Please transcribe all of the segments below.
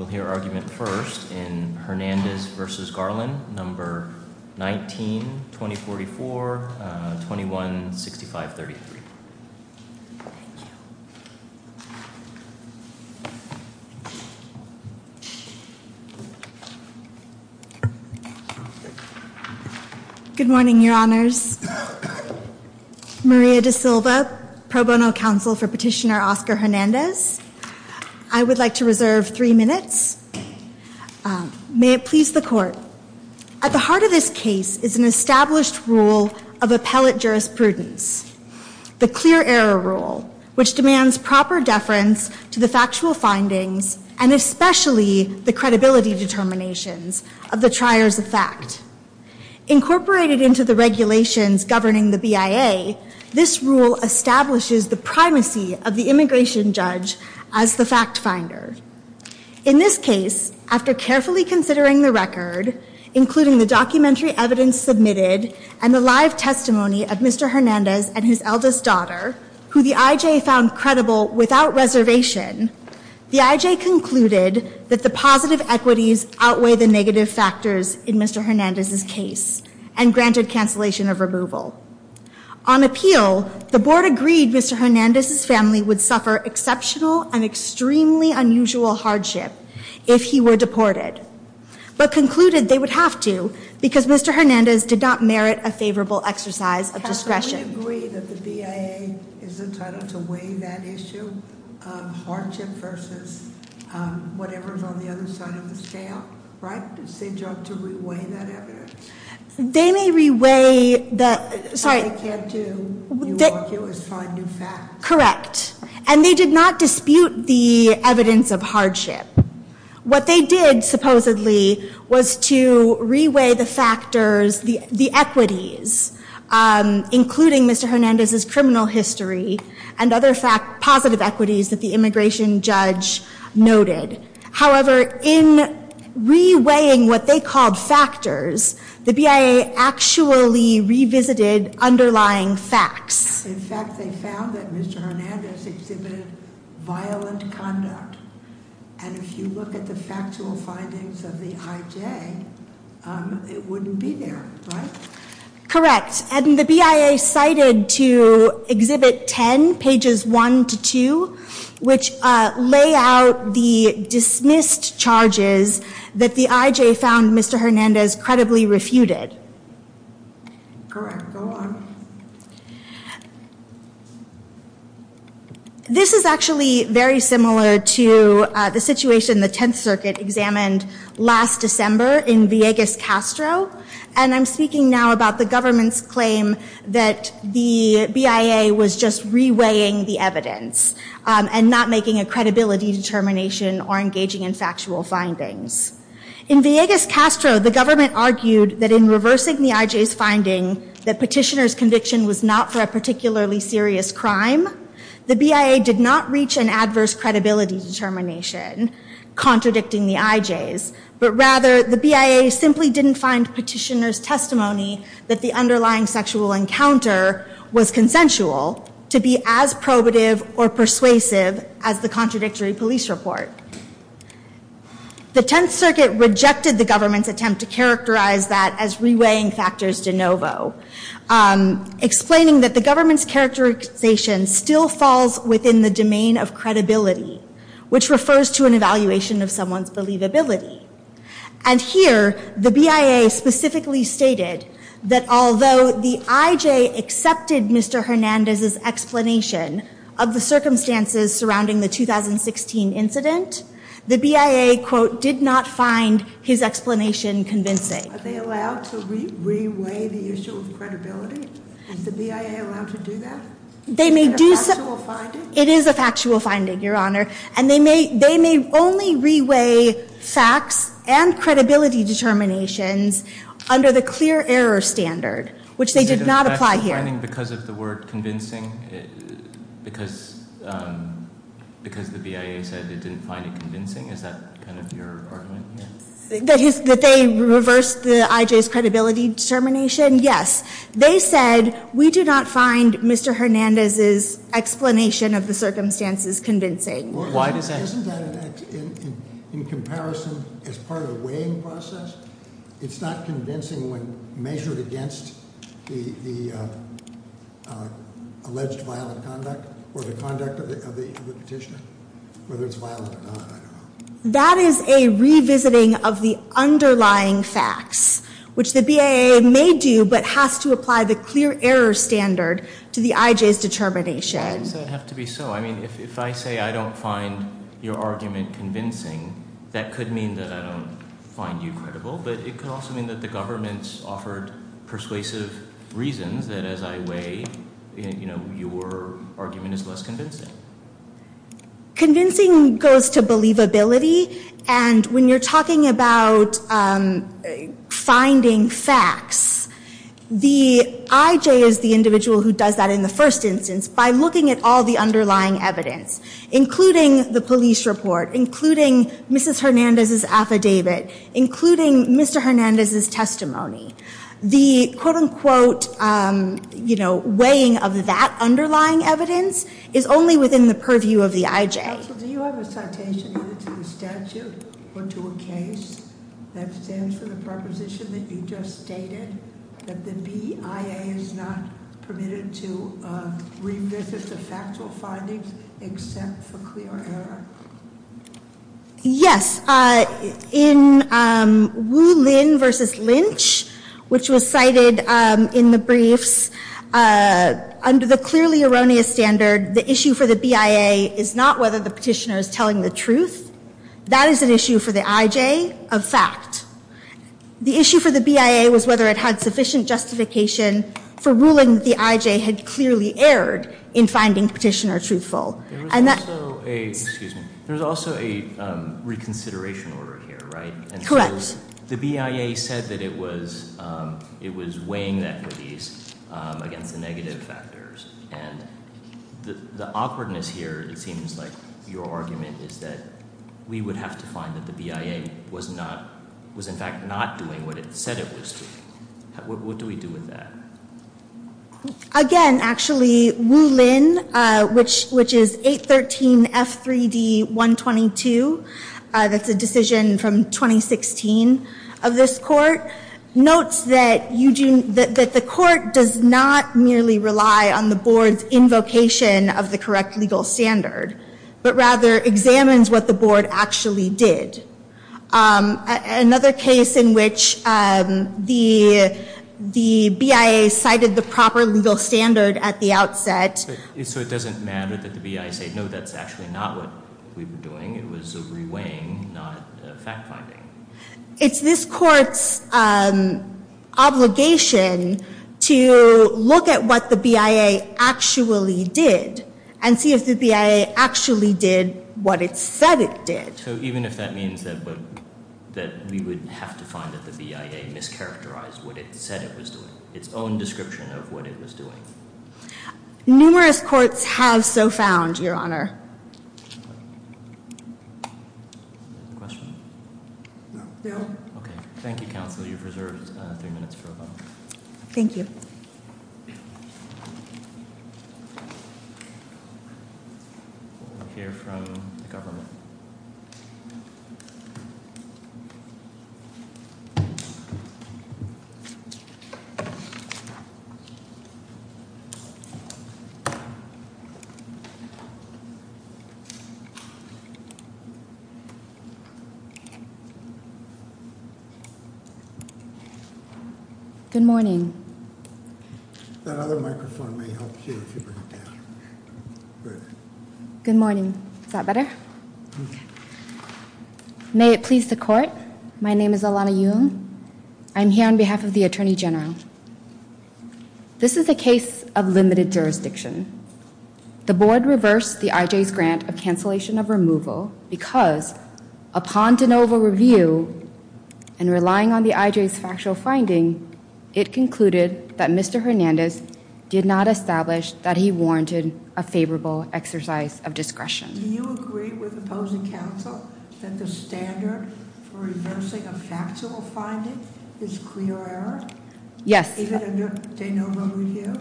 will hear argument first in Hernandez v. Garland, No. 19, 2044, 21-6533. Good morning, Your Honors. Maria Da Silva, Pro Bono Counsel for Petitioner Oscar Hernandez. I would like to reserve three minutes. May it please the Court. At the heart of this case is an established rule of appellate jurisprudence, the clear error rule, which demands proper deference to the factual findings and especially the credibility determinations of the triers of fact. Incorporated into the regulations governing the BIA, this rule establishes the primacy of the immigration judge as the fact finder. In this case, after carefully considering the record, including the documentary evidence submitted and the live testimony of Mr. Hernandez and his eldest daughter, who the IJ found credible without reservation, the IJ concluded that the positive equities outweigh the negative factors in Mr. Hernandez's case and granted cancellation of removal. On appeal, the Board agreed Mr. Hernandez's family would suffer exceptional and extremely unusual hardship if he were deported, but concluded they would have to because Mr. Hernandez did not merit a favorable exercise of discretion. I would agree that the BIA is entitled to weigh that issue of hardship versus whatever is on the other side of the scale, right? It's their job to re-weigh that evidence. They may re-weigh the- All they can do, you argue, is find new facts. Correct. And they did not dispute the evidence of hardship. What they did, supposedly, was to re-weigh the factors, the equities, including Mr. Hernandez's criminal history and other positive equities that the immigration judge noted. However, in re-weighing what they called factors, the BIA actually revisited underlying facts. In fact, they found that Mr. Hernandez exhibited violent conduct. And if you look at the factual findings of the IJ, it wouldn't be there, right? Correct. And the BIA cited to Exhibit 10, Pages 1 to 2, which lay out the dismissed charges that the IJ found Mr. Hernandez credibly refuted. Correct. Go on. This is actually very similar to the situation the Tenth Circuit examined last December in Villegas-Castro. And I'm speaking now about the government's claim that the BIA was just re-weighing the evidence and not making a credibility determination or engaging in factual findings. In Villegas-Castro, the government argued that in reversing the IJ's finding that Petitioner's conviction was not for a particularly serious crime, the BIA did not reach an adverse credibility determination contradicting the IJ's. But rather, the BIA simply didn't find Petitioner's testimony that the underlying sexual encounter was consensual to be as probative or persuasive as the contradictory police report. The Tenth Circuit rejected the government's attempt to characterize that as re-weighing factors de novo, explaining that the government's characterization still falls within the domain of credibility, which refers to an evaluation of someone's believability. And here, the BIA specifically stated that although the IJ accepted Mr. Hernandez's explanation of the circumstances surrounding the 2016 incident, the BIA, quote, did not find his explanation convincing. Are they allowed to re-weigh the issue of credibility? Is the BIA allowed to do that? It is a factual finding, Your Honor. And they may only re-weigh facts and credibility determinations under the clear error standard, which they did not apply here. Because of the word convincing? Because the BIA said it didn't find it convincing? Is that kind of your argument here? That they reversed the IJ's credibility determination? Yes. They said, we do not find Mr. Hernandez's explanation of the circumstances convincing. Why does that- Isn't that in comparison as part of the weighing process? It's not convincing when measured against the alleged violent conduct or the conduct of the petitioner? Whether it's violent or not, I don't know. That is a revisiting of the underlying facts, which the BIA may do, but has to apply the clear error standard to the IJ's determination. Why does that have to be so? I mean, if I say I don't find your argument convincing, that could mean that I don't find you credible. But it could also mean that the government's offered persuasive reasons that as I weigh, you know, your argument is less convincing. Convincing goes to believability, and when you're talking about finding facts, the IJ is the individual who does that in the first instance by looking at all the underlying evidence, including the police report, including Mrs. Hernandez's affidavit, including Mr. Hernandez's testimony. The quote-unquote, you know, weighing of that underlying evidence is only within the purview of the IJ. Counsel, do you have a citation either to the statute or to a case that stands for the proposition that you just stated, that the BIA is not permitted to revisit the factual findings except for clear error? Yes. In Wu Lin versus Lynch, which was cited in the briefs, under the clearly erroneous standard, the issue for the BIA is not whether the petitioner is telling the truth. That is an issue for the IJ of fact. The issue for the BIA was whether it had sufficient justification for ruling that the IJ had clearly erred in finding the petitioner truthful. There was also a reconsideration order here, right? Correct. The BIA said that it was weighing the equities against the negative factors, and the awkwardness here, it seems like your argument is that we would have to find that the BIA was in fact not doing what it said it was doing. What do we do with that? Again, actually, Wu Lin, which is 813 F3D 122, that's a decision from 2016 of this court, notes that the court does not merely rely on the board's invocation of the correct legal standard, but rather examines what the board actually did. Another case in which the BIA cited the proper legal standard at the outset. So it doesn't matter that the BIA said, no, that's actually not what we were doing. It was a re-weighing, not fact-finding. It's this court's obligation to look at what the BIA actually did and see if the BIA actually did what it said it did. So even if that means that we would have to find that the BIA mischaracterized what it said it was doing, its own description of what it was doing. Numerous courts have so found, Your Honor. Any questions? No. Okay. Thank you, counsel. You've reserved three minutes for a vote. Thank you. We'll hear from the government. Good morning. Good morning. Is that better? May it please the court. My name is Alana Yoon. I'm here on behalf of the Attorney General. This is a case of limited jurisdiction. The board reversed the IJ's grant of cancellation of removal because upon de novo review and relying on the IJ's factual finding, it concluded that Mr. Hernandez did not establish that he warranted a favorable exercise of discretion. Do you agree with opposing counsel that the standard for reversing a factual finding is clear error? Yes. Even under de novo review?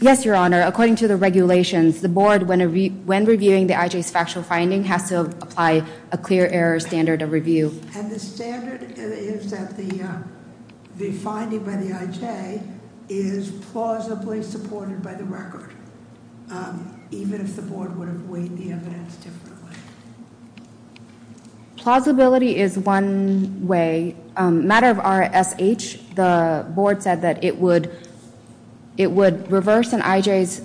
Yes, Your Honor. According to the regulations, the board, when reviewing the IJ's factual finding, has to apply a clear error standard of review. And the standard is that the finding by the IJ is plausibly supported by the record, even if the board would have weighed the evidence differently. Plausibility is one way. In a matter of RSH, the board said that it would reverse an IJ's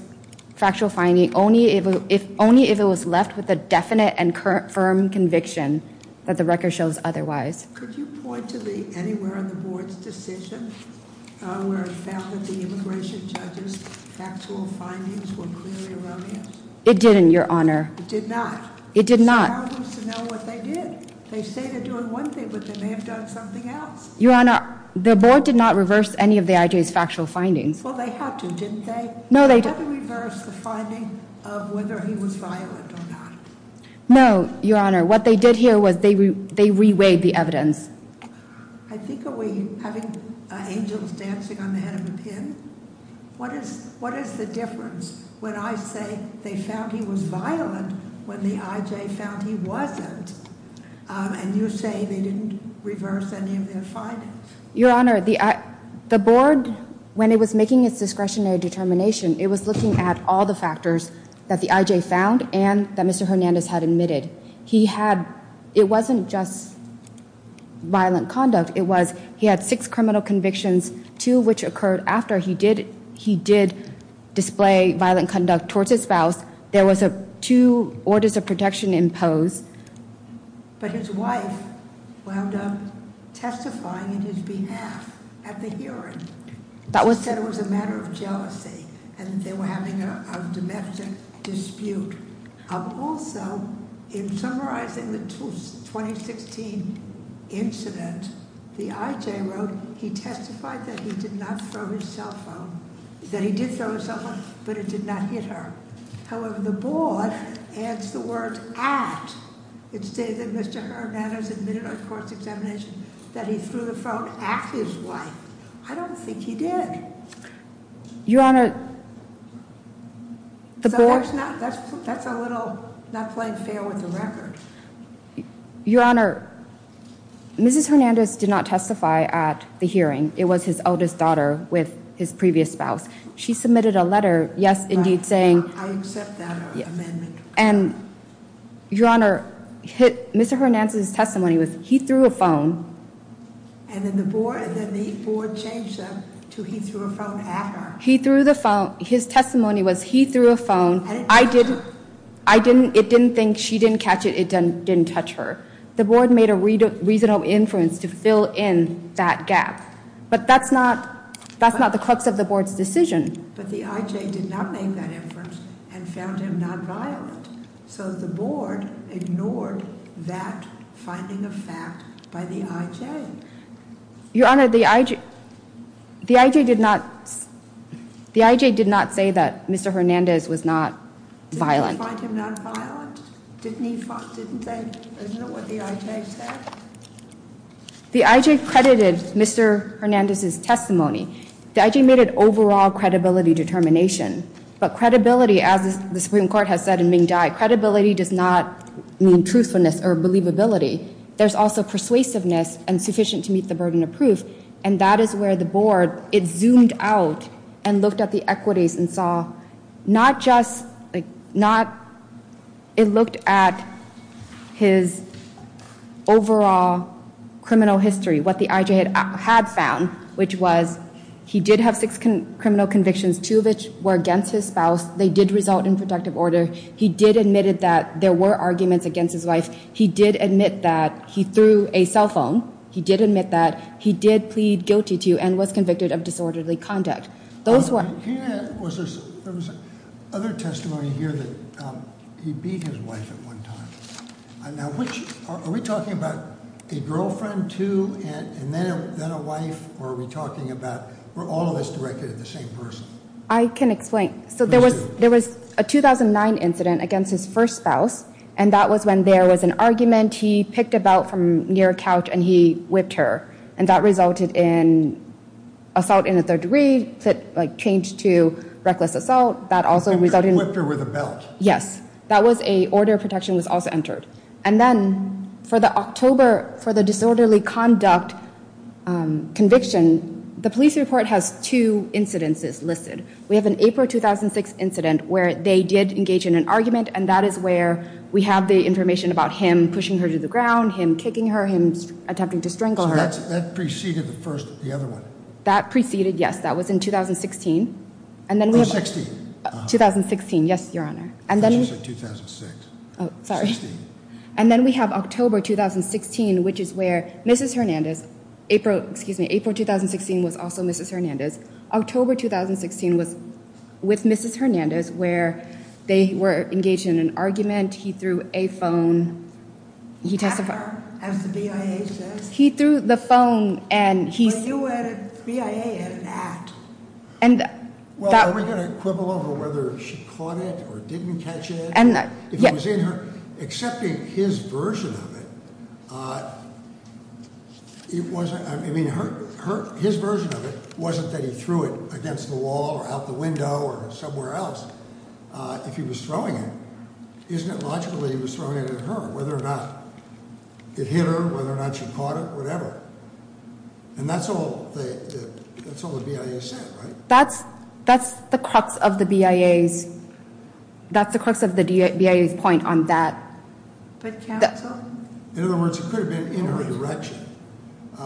factual finding only if it was left with a definite and firm conviction that the record shows otherwise. Could you point to anywhere in the board's decision where it found that the immigration judge's factual findings were clearly erroneous? It didn't, Your Honor. It did not? It did not. They say they're doing one thing, but they may have done something else. Your Honor, the board did not reverse any of the IJ's factual findings. Well, they had to, didn't they? No, they didn't. They had to reverse the finding of whether he was violent or not. No, Your Honor. What they did here was they re-weighed the evidence. I think are we having angels dancing on the head of a pin? What is the difference when I say they found he was violent when the IJ found he wasn't, and you say they didn't reverse any of their findings? Your Honor, the board, when it was making its discretionary determination, it was looking at all the factors that the IJ found and that Mr. Hernandez had admitted. It wasn't just violent conduct. It was he had six criminal convictions, two of which occurred after he did display violent conduct towards his spouse. There was two orders of protection imposed. But his wife wound up testifying in his behalf at the hearing. That was said it was a matter of jealousy, and they were having a domestic dispute. Also, in summarizing the 2016 incident, the IJ wrote he testified that he did not throw his cell phone, that he did throw his cell phone, but it did not hit her. However, the board adds the word at. It stated that Mr. Hernandez admitted on course examination that he threw the phone at his wife. I don't think he did. Your Honor, the board- That's a little not playing fair with the record. Your Honor, Mrs. Hernandez did not testify at the hearing. It was his eldest daughter with his previous spouse. She submitted a letter, yes, indeed, saying- I accept that amendment. And, Your Honor, Mr. Hernandez's testimony was he threw a phone- And then the board changed them to he threw a phone at her. His testimony was he threw a phone. It didn't think she didn't catch it. It didn't touch her. The board made a reasonable inference to fill in that gap. But that's not the crux of the board's decision. But the IJ did not make that inference and found him nonviolent. So the board ignored that finding of fact by the IJ. Your Honor, the IJ did not say that Mr. Hernandez was not violent. Did they find him nonviolent? Isn't that what the IJ said? The IJ credited Mr. Hernandez's testimony. The IJ made an overall credibility determination. But credibility, as the Supreme Court has said in Ming Dai, credibility does not mean truthfulness or believability. There's also persuasiveness and sufficient to meet the burden of proof. And that is where the board, it zoomed out and looked at the equities and saw not just, it looked at his overall criminal history, what the IJ had found, which was he did have six criminal convictions, two of which were against his spouse. They did result in protective order. He did admit that there were arguments against his wife. He did admit that he threw a cell phone. He did admit that he did plead guilty to and was convicted of disorderly conduct. There was other testimony here that he beat his wife at one time. Are we talking about a girlfriend too and then a wife? Or are we talking about all of this directed at the same person? I can explain. So there was a 2009 incident against his first spouse, and that was when there was an argument. He picked a belt from near a couch and he whipped her, and that resulted in assault in the third degree that changed to reckless assault. And he whipped her with a belt? Yes. That was a order of protection was also entered. And then for the disorderly conduct conviction, the police report has two incidences listed. We have an April 2006 incident where they did engage in an argument, and that is where we have the information about him pushing her to the ground, him kicking her, him attempting to strangle her. So that preceded the first, the other one? That preceded, yes. That was in 2016. Oh, 16. 2016, yes, Your Honor. I thought you said 2006. Oh, sorry. And then we have October 2016, which is where Mrs. Hernandez, April, excuse me, April 2016 was also Mrs. Hernandez. October 2016 was with Mrs. Hernandez where they were engaged in an argument. He threw a phone. After, as the BIA says. He threw the phone and he said. Well, you were at a BIA at an act. Well, are we going to quibble over whether she caught it or didn't catch it? If it was in her, excepting his version of it, I mean, his version of it wasn't that he threw it against the wall or out the window or somewhere else. If he was throwing it, isn't it logical that he was throwing it at her, whether or not it hit her, whether or not she caught it, whatever. And that's all the BIA said, right? That's the crux of the BIA's point on that. But counsel. In other words, it could have been in her direction.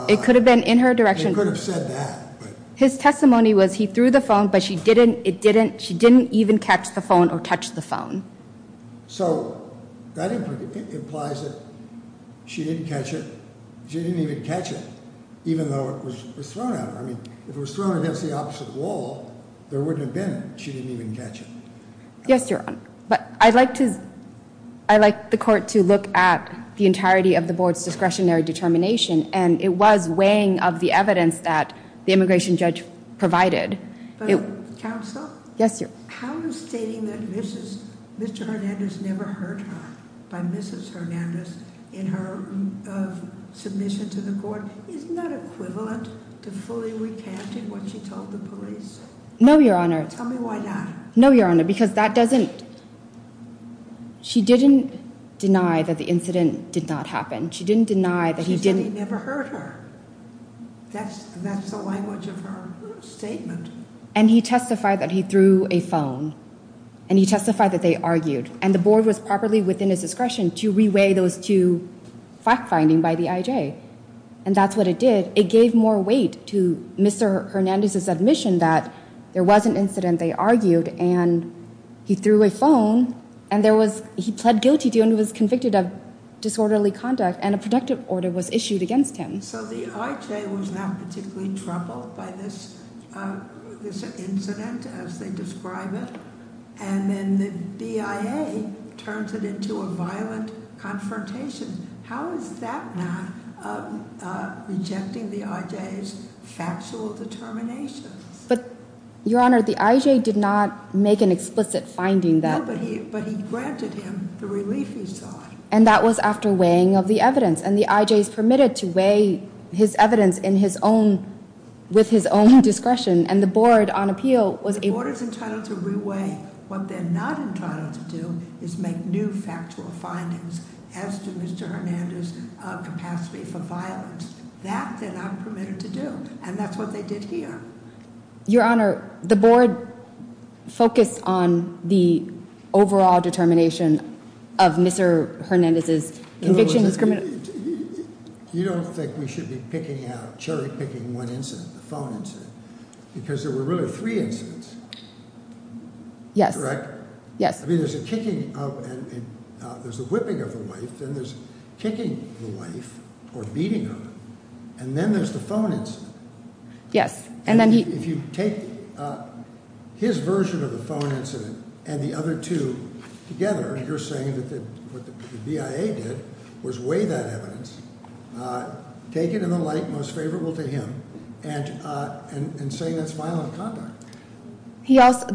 It could have been in her direction. Could have said that. His testimony was he threw the phone, but she didn't. It didn't. She didn't even catch the phone or touch the phone. So that implies that she didn't catch it. She didn't even catch it, even though it was thrown at her. I mean, if it was thrown against the opposite wall, there wouldn't have been. She didn't even catch it. Yes, Your Honor. I'd like the court to look at the entirety of the board's discretionary determination, and it was weighing of the evidence that the immigration judge provided. But, counsel. Yes, Your Honor. How is stating that Mr. Hernandez never hurt her by Mrs. Hernandez in her submission to the court, isn't that equivalent to fully recanting what she told the police? No, Your Honor. Tell me why not. No, Your Honor, because that doesn't. She didn't deny that the incident did not happen. She didn't deny that he didn't. She said he never hurt her. That's the language of her statement. And he testified that he threw a phone. And he testified that they argued. And the board was properly within its discretion to reweigh those two fact findings by the IJ. And that's what it did. It gave more weight to Mr. Hernandez's admission that there was an incident they argued. And he threw a phone. And he pled guilty to and was convicted of disorderly conduct. And a protective order was issued against him. So the IJ was not particularly troubled by this incident as they describe it. And then the BIA turns it into a violent confrontation. How is that not rejecting the IJ's factual determinations? But, Your Honor, the IJ did not make an explicit finding that. No, but he granted him the relief he sought. And that was after weighing of the evidence. And the IJ is permitted to weigh his evidence with his own discretion. And the board on appeal was able to. The board is entitled to reweigh. What they're not entitled to do is make new factual findings as to Mr. Hernandez's capacity for violence. That they're not permitted to do. And that's what they did here. Your Honor, the board focused on the overall determination of Mr. Hernandez's conviction. You don't think we should be picking out, cherry picking one incident, the phone incident. Because there were really three incidents. Yes. Correct? Yes. I mean, there's a kicking of and there's a whipping of the wife. Then there's kicking the wife or beating her. And then there's the phone incident. Yes. And then he. If you take his version of the phone incident and the other two together, you're saying that what the BIA did was weigh that evidence. Take it in the light most favorable to him and say that's violent conduct.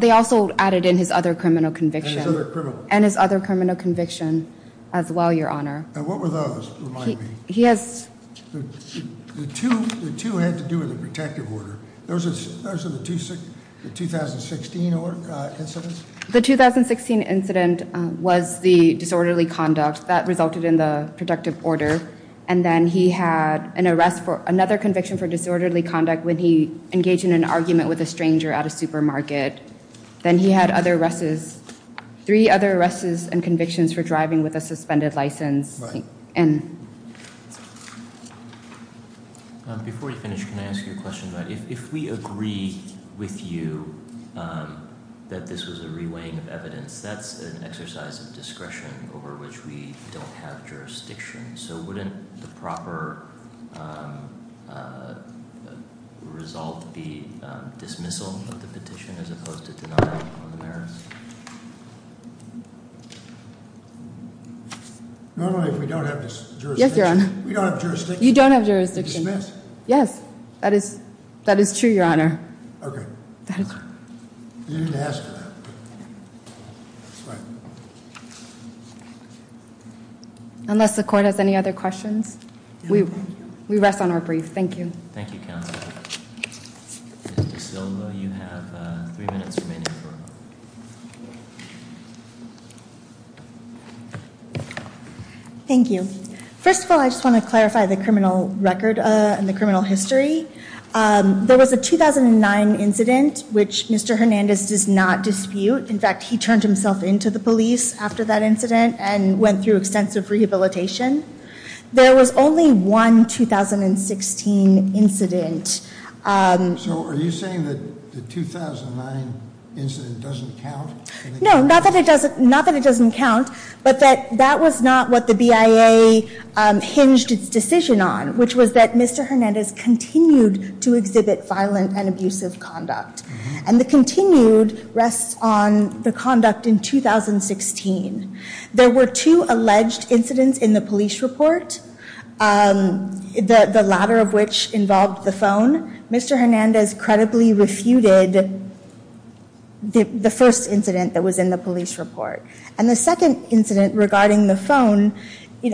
They also added in his other criminal conviction. And his other criminal. And his other criminal conviction as well, Your Honor. And what were those, remind me? He has. The two had to do with the protective order. Those are the 2016 incidents? The 2016 incident was the disorderly conduct that resulted in the protective order. And then he had an arrest for another conviction for disorderly conduct when he engaged in an argument with a stranger at a supermarket. Then he had other arrests, three other arrests and convictions for driving with a suspended license. And. Before you finish, can I ask you a question? If we agree with you that this was a reweighing of evidence, that's an exercise of discretion over which we don't have jurisdiction. So wouldn't the proper result be dismissal of the petition as opposed to denial of the merits? Not only if we don't have jurisdiction. Yes, Your Honor. We don't have jurisdiction. You don't have jurisdiction. Dismissed. Yes, that is true, Your Honor. Okay. That is true. You didn't ask for that. Unless the court has any other questions, we rest on our brief. Thank you. Thank you, Counselor. Ms. DeSilva, you have three minutes remaining. Thank you. First of all, I just want to clarify the criminal record and the criminal history. There was a 2009 incident which Mr. Hernandez does not dispute. In fact, he turned himself in to the police after that incident and went through extensive rehabilitation. There was only one 2016 incident. So are you saying that the 2009 incident doesn't count? No, not that it doesn't count, but that that was not what the BIA hinged its decision on, which was that Mr. Hernandez continued to exhibit violent and abusive conduct. And the continued rests on the conduct in 2016. There were two alleged incidents in the police report, the latter of which involved the phone. Mr. Hernandez credibly refuted the first incident that was in the police report. And the second incident regarding the phone,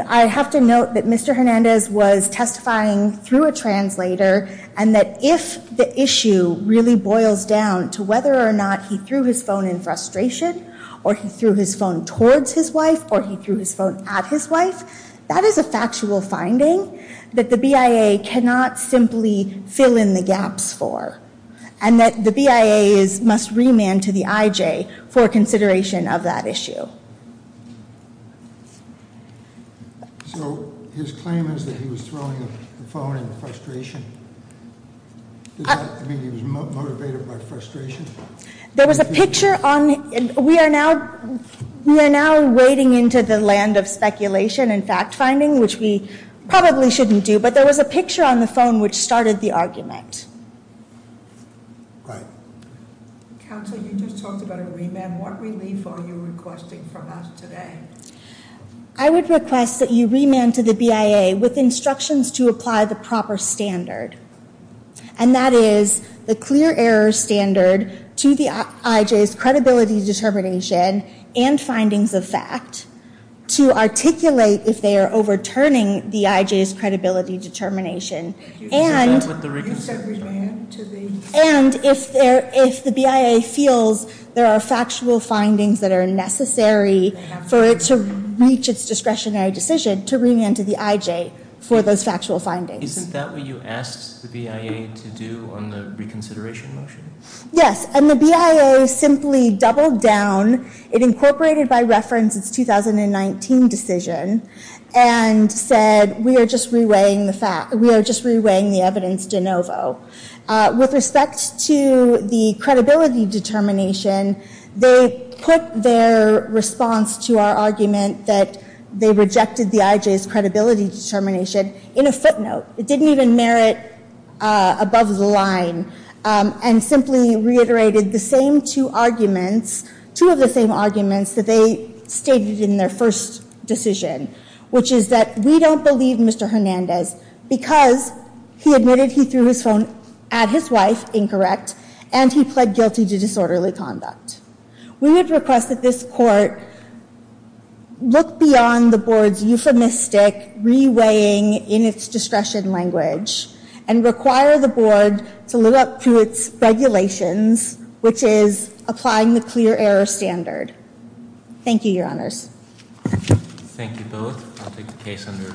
I have to note that Mr. Hernandez was testifying through a translator and that if the issue really boils down to whether or not he threw his phone in frustration or he threw his phone towards his wife or he threw his phone at his wife, that is a factual finding that the BIA cannot simply fill in the gaps for. And that the BIA must remand to the IJ for consideration of that issue. So his claim is that he was throwing the phone in frustration. Does that mean he was motivated by frustration? There was a picture on, we are now wading into the land of speculation and fact finding, which we probably shouldn't do, but there was a picture on the phone which started the argument. Right. Counsel, you just talked about a remand. What relief are you requesting from us today? I would request that you remand to the BIA with instructions to apply the proper standard. And that is the clear error standard to the IJ's credibility determination and findings of fact to articulate if they are overturning the IJ's credibility determination. And if the BIA feels there are factual findings that are necessary for it to reach its discretionary decision, to remand to the IJ for those factual findings. Isn't that what you asked the BIA to do on the reconsideration motion? Yes, and the BIA simply doubled down. It incorporated by reference its 2019 decision and said we are just reweighing the evidence de novo. With respect to the credibility determination, they put their response to our argument that they rejected the IJ's credibility determination in a footnote. It didn't even merit above the line and simply reiterated the same two arguments, two of the same arguments that they stated in their first decision, which is that we don't believe Mr. Hernandez because he admitted he threw his phone at his wife, incorrect, and he pled guilty to disorderly conduct. We would request that this court look beyond the board's euphemistic reweighing in its discretion language and require the board to live up to its regulations, which is applying the clear error standard. Thank you, Your Honors. Thank you both. I'll take the case under review.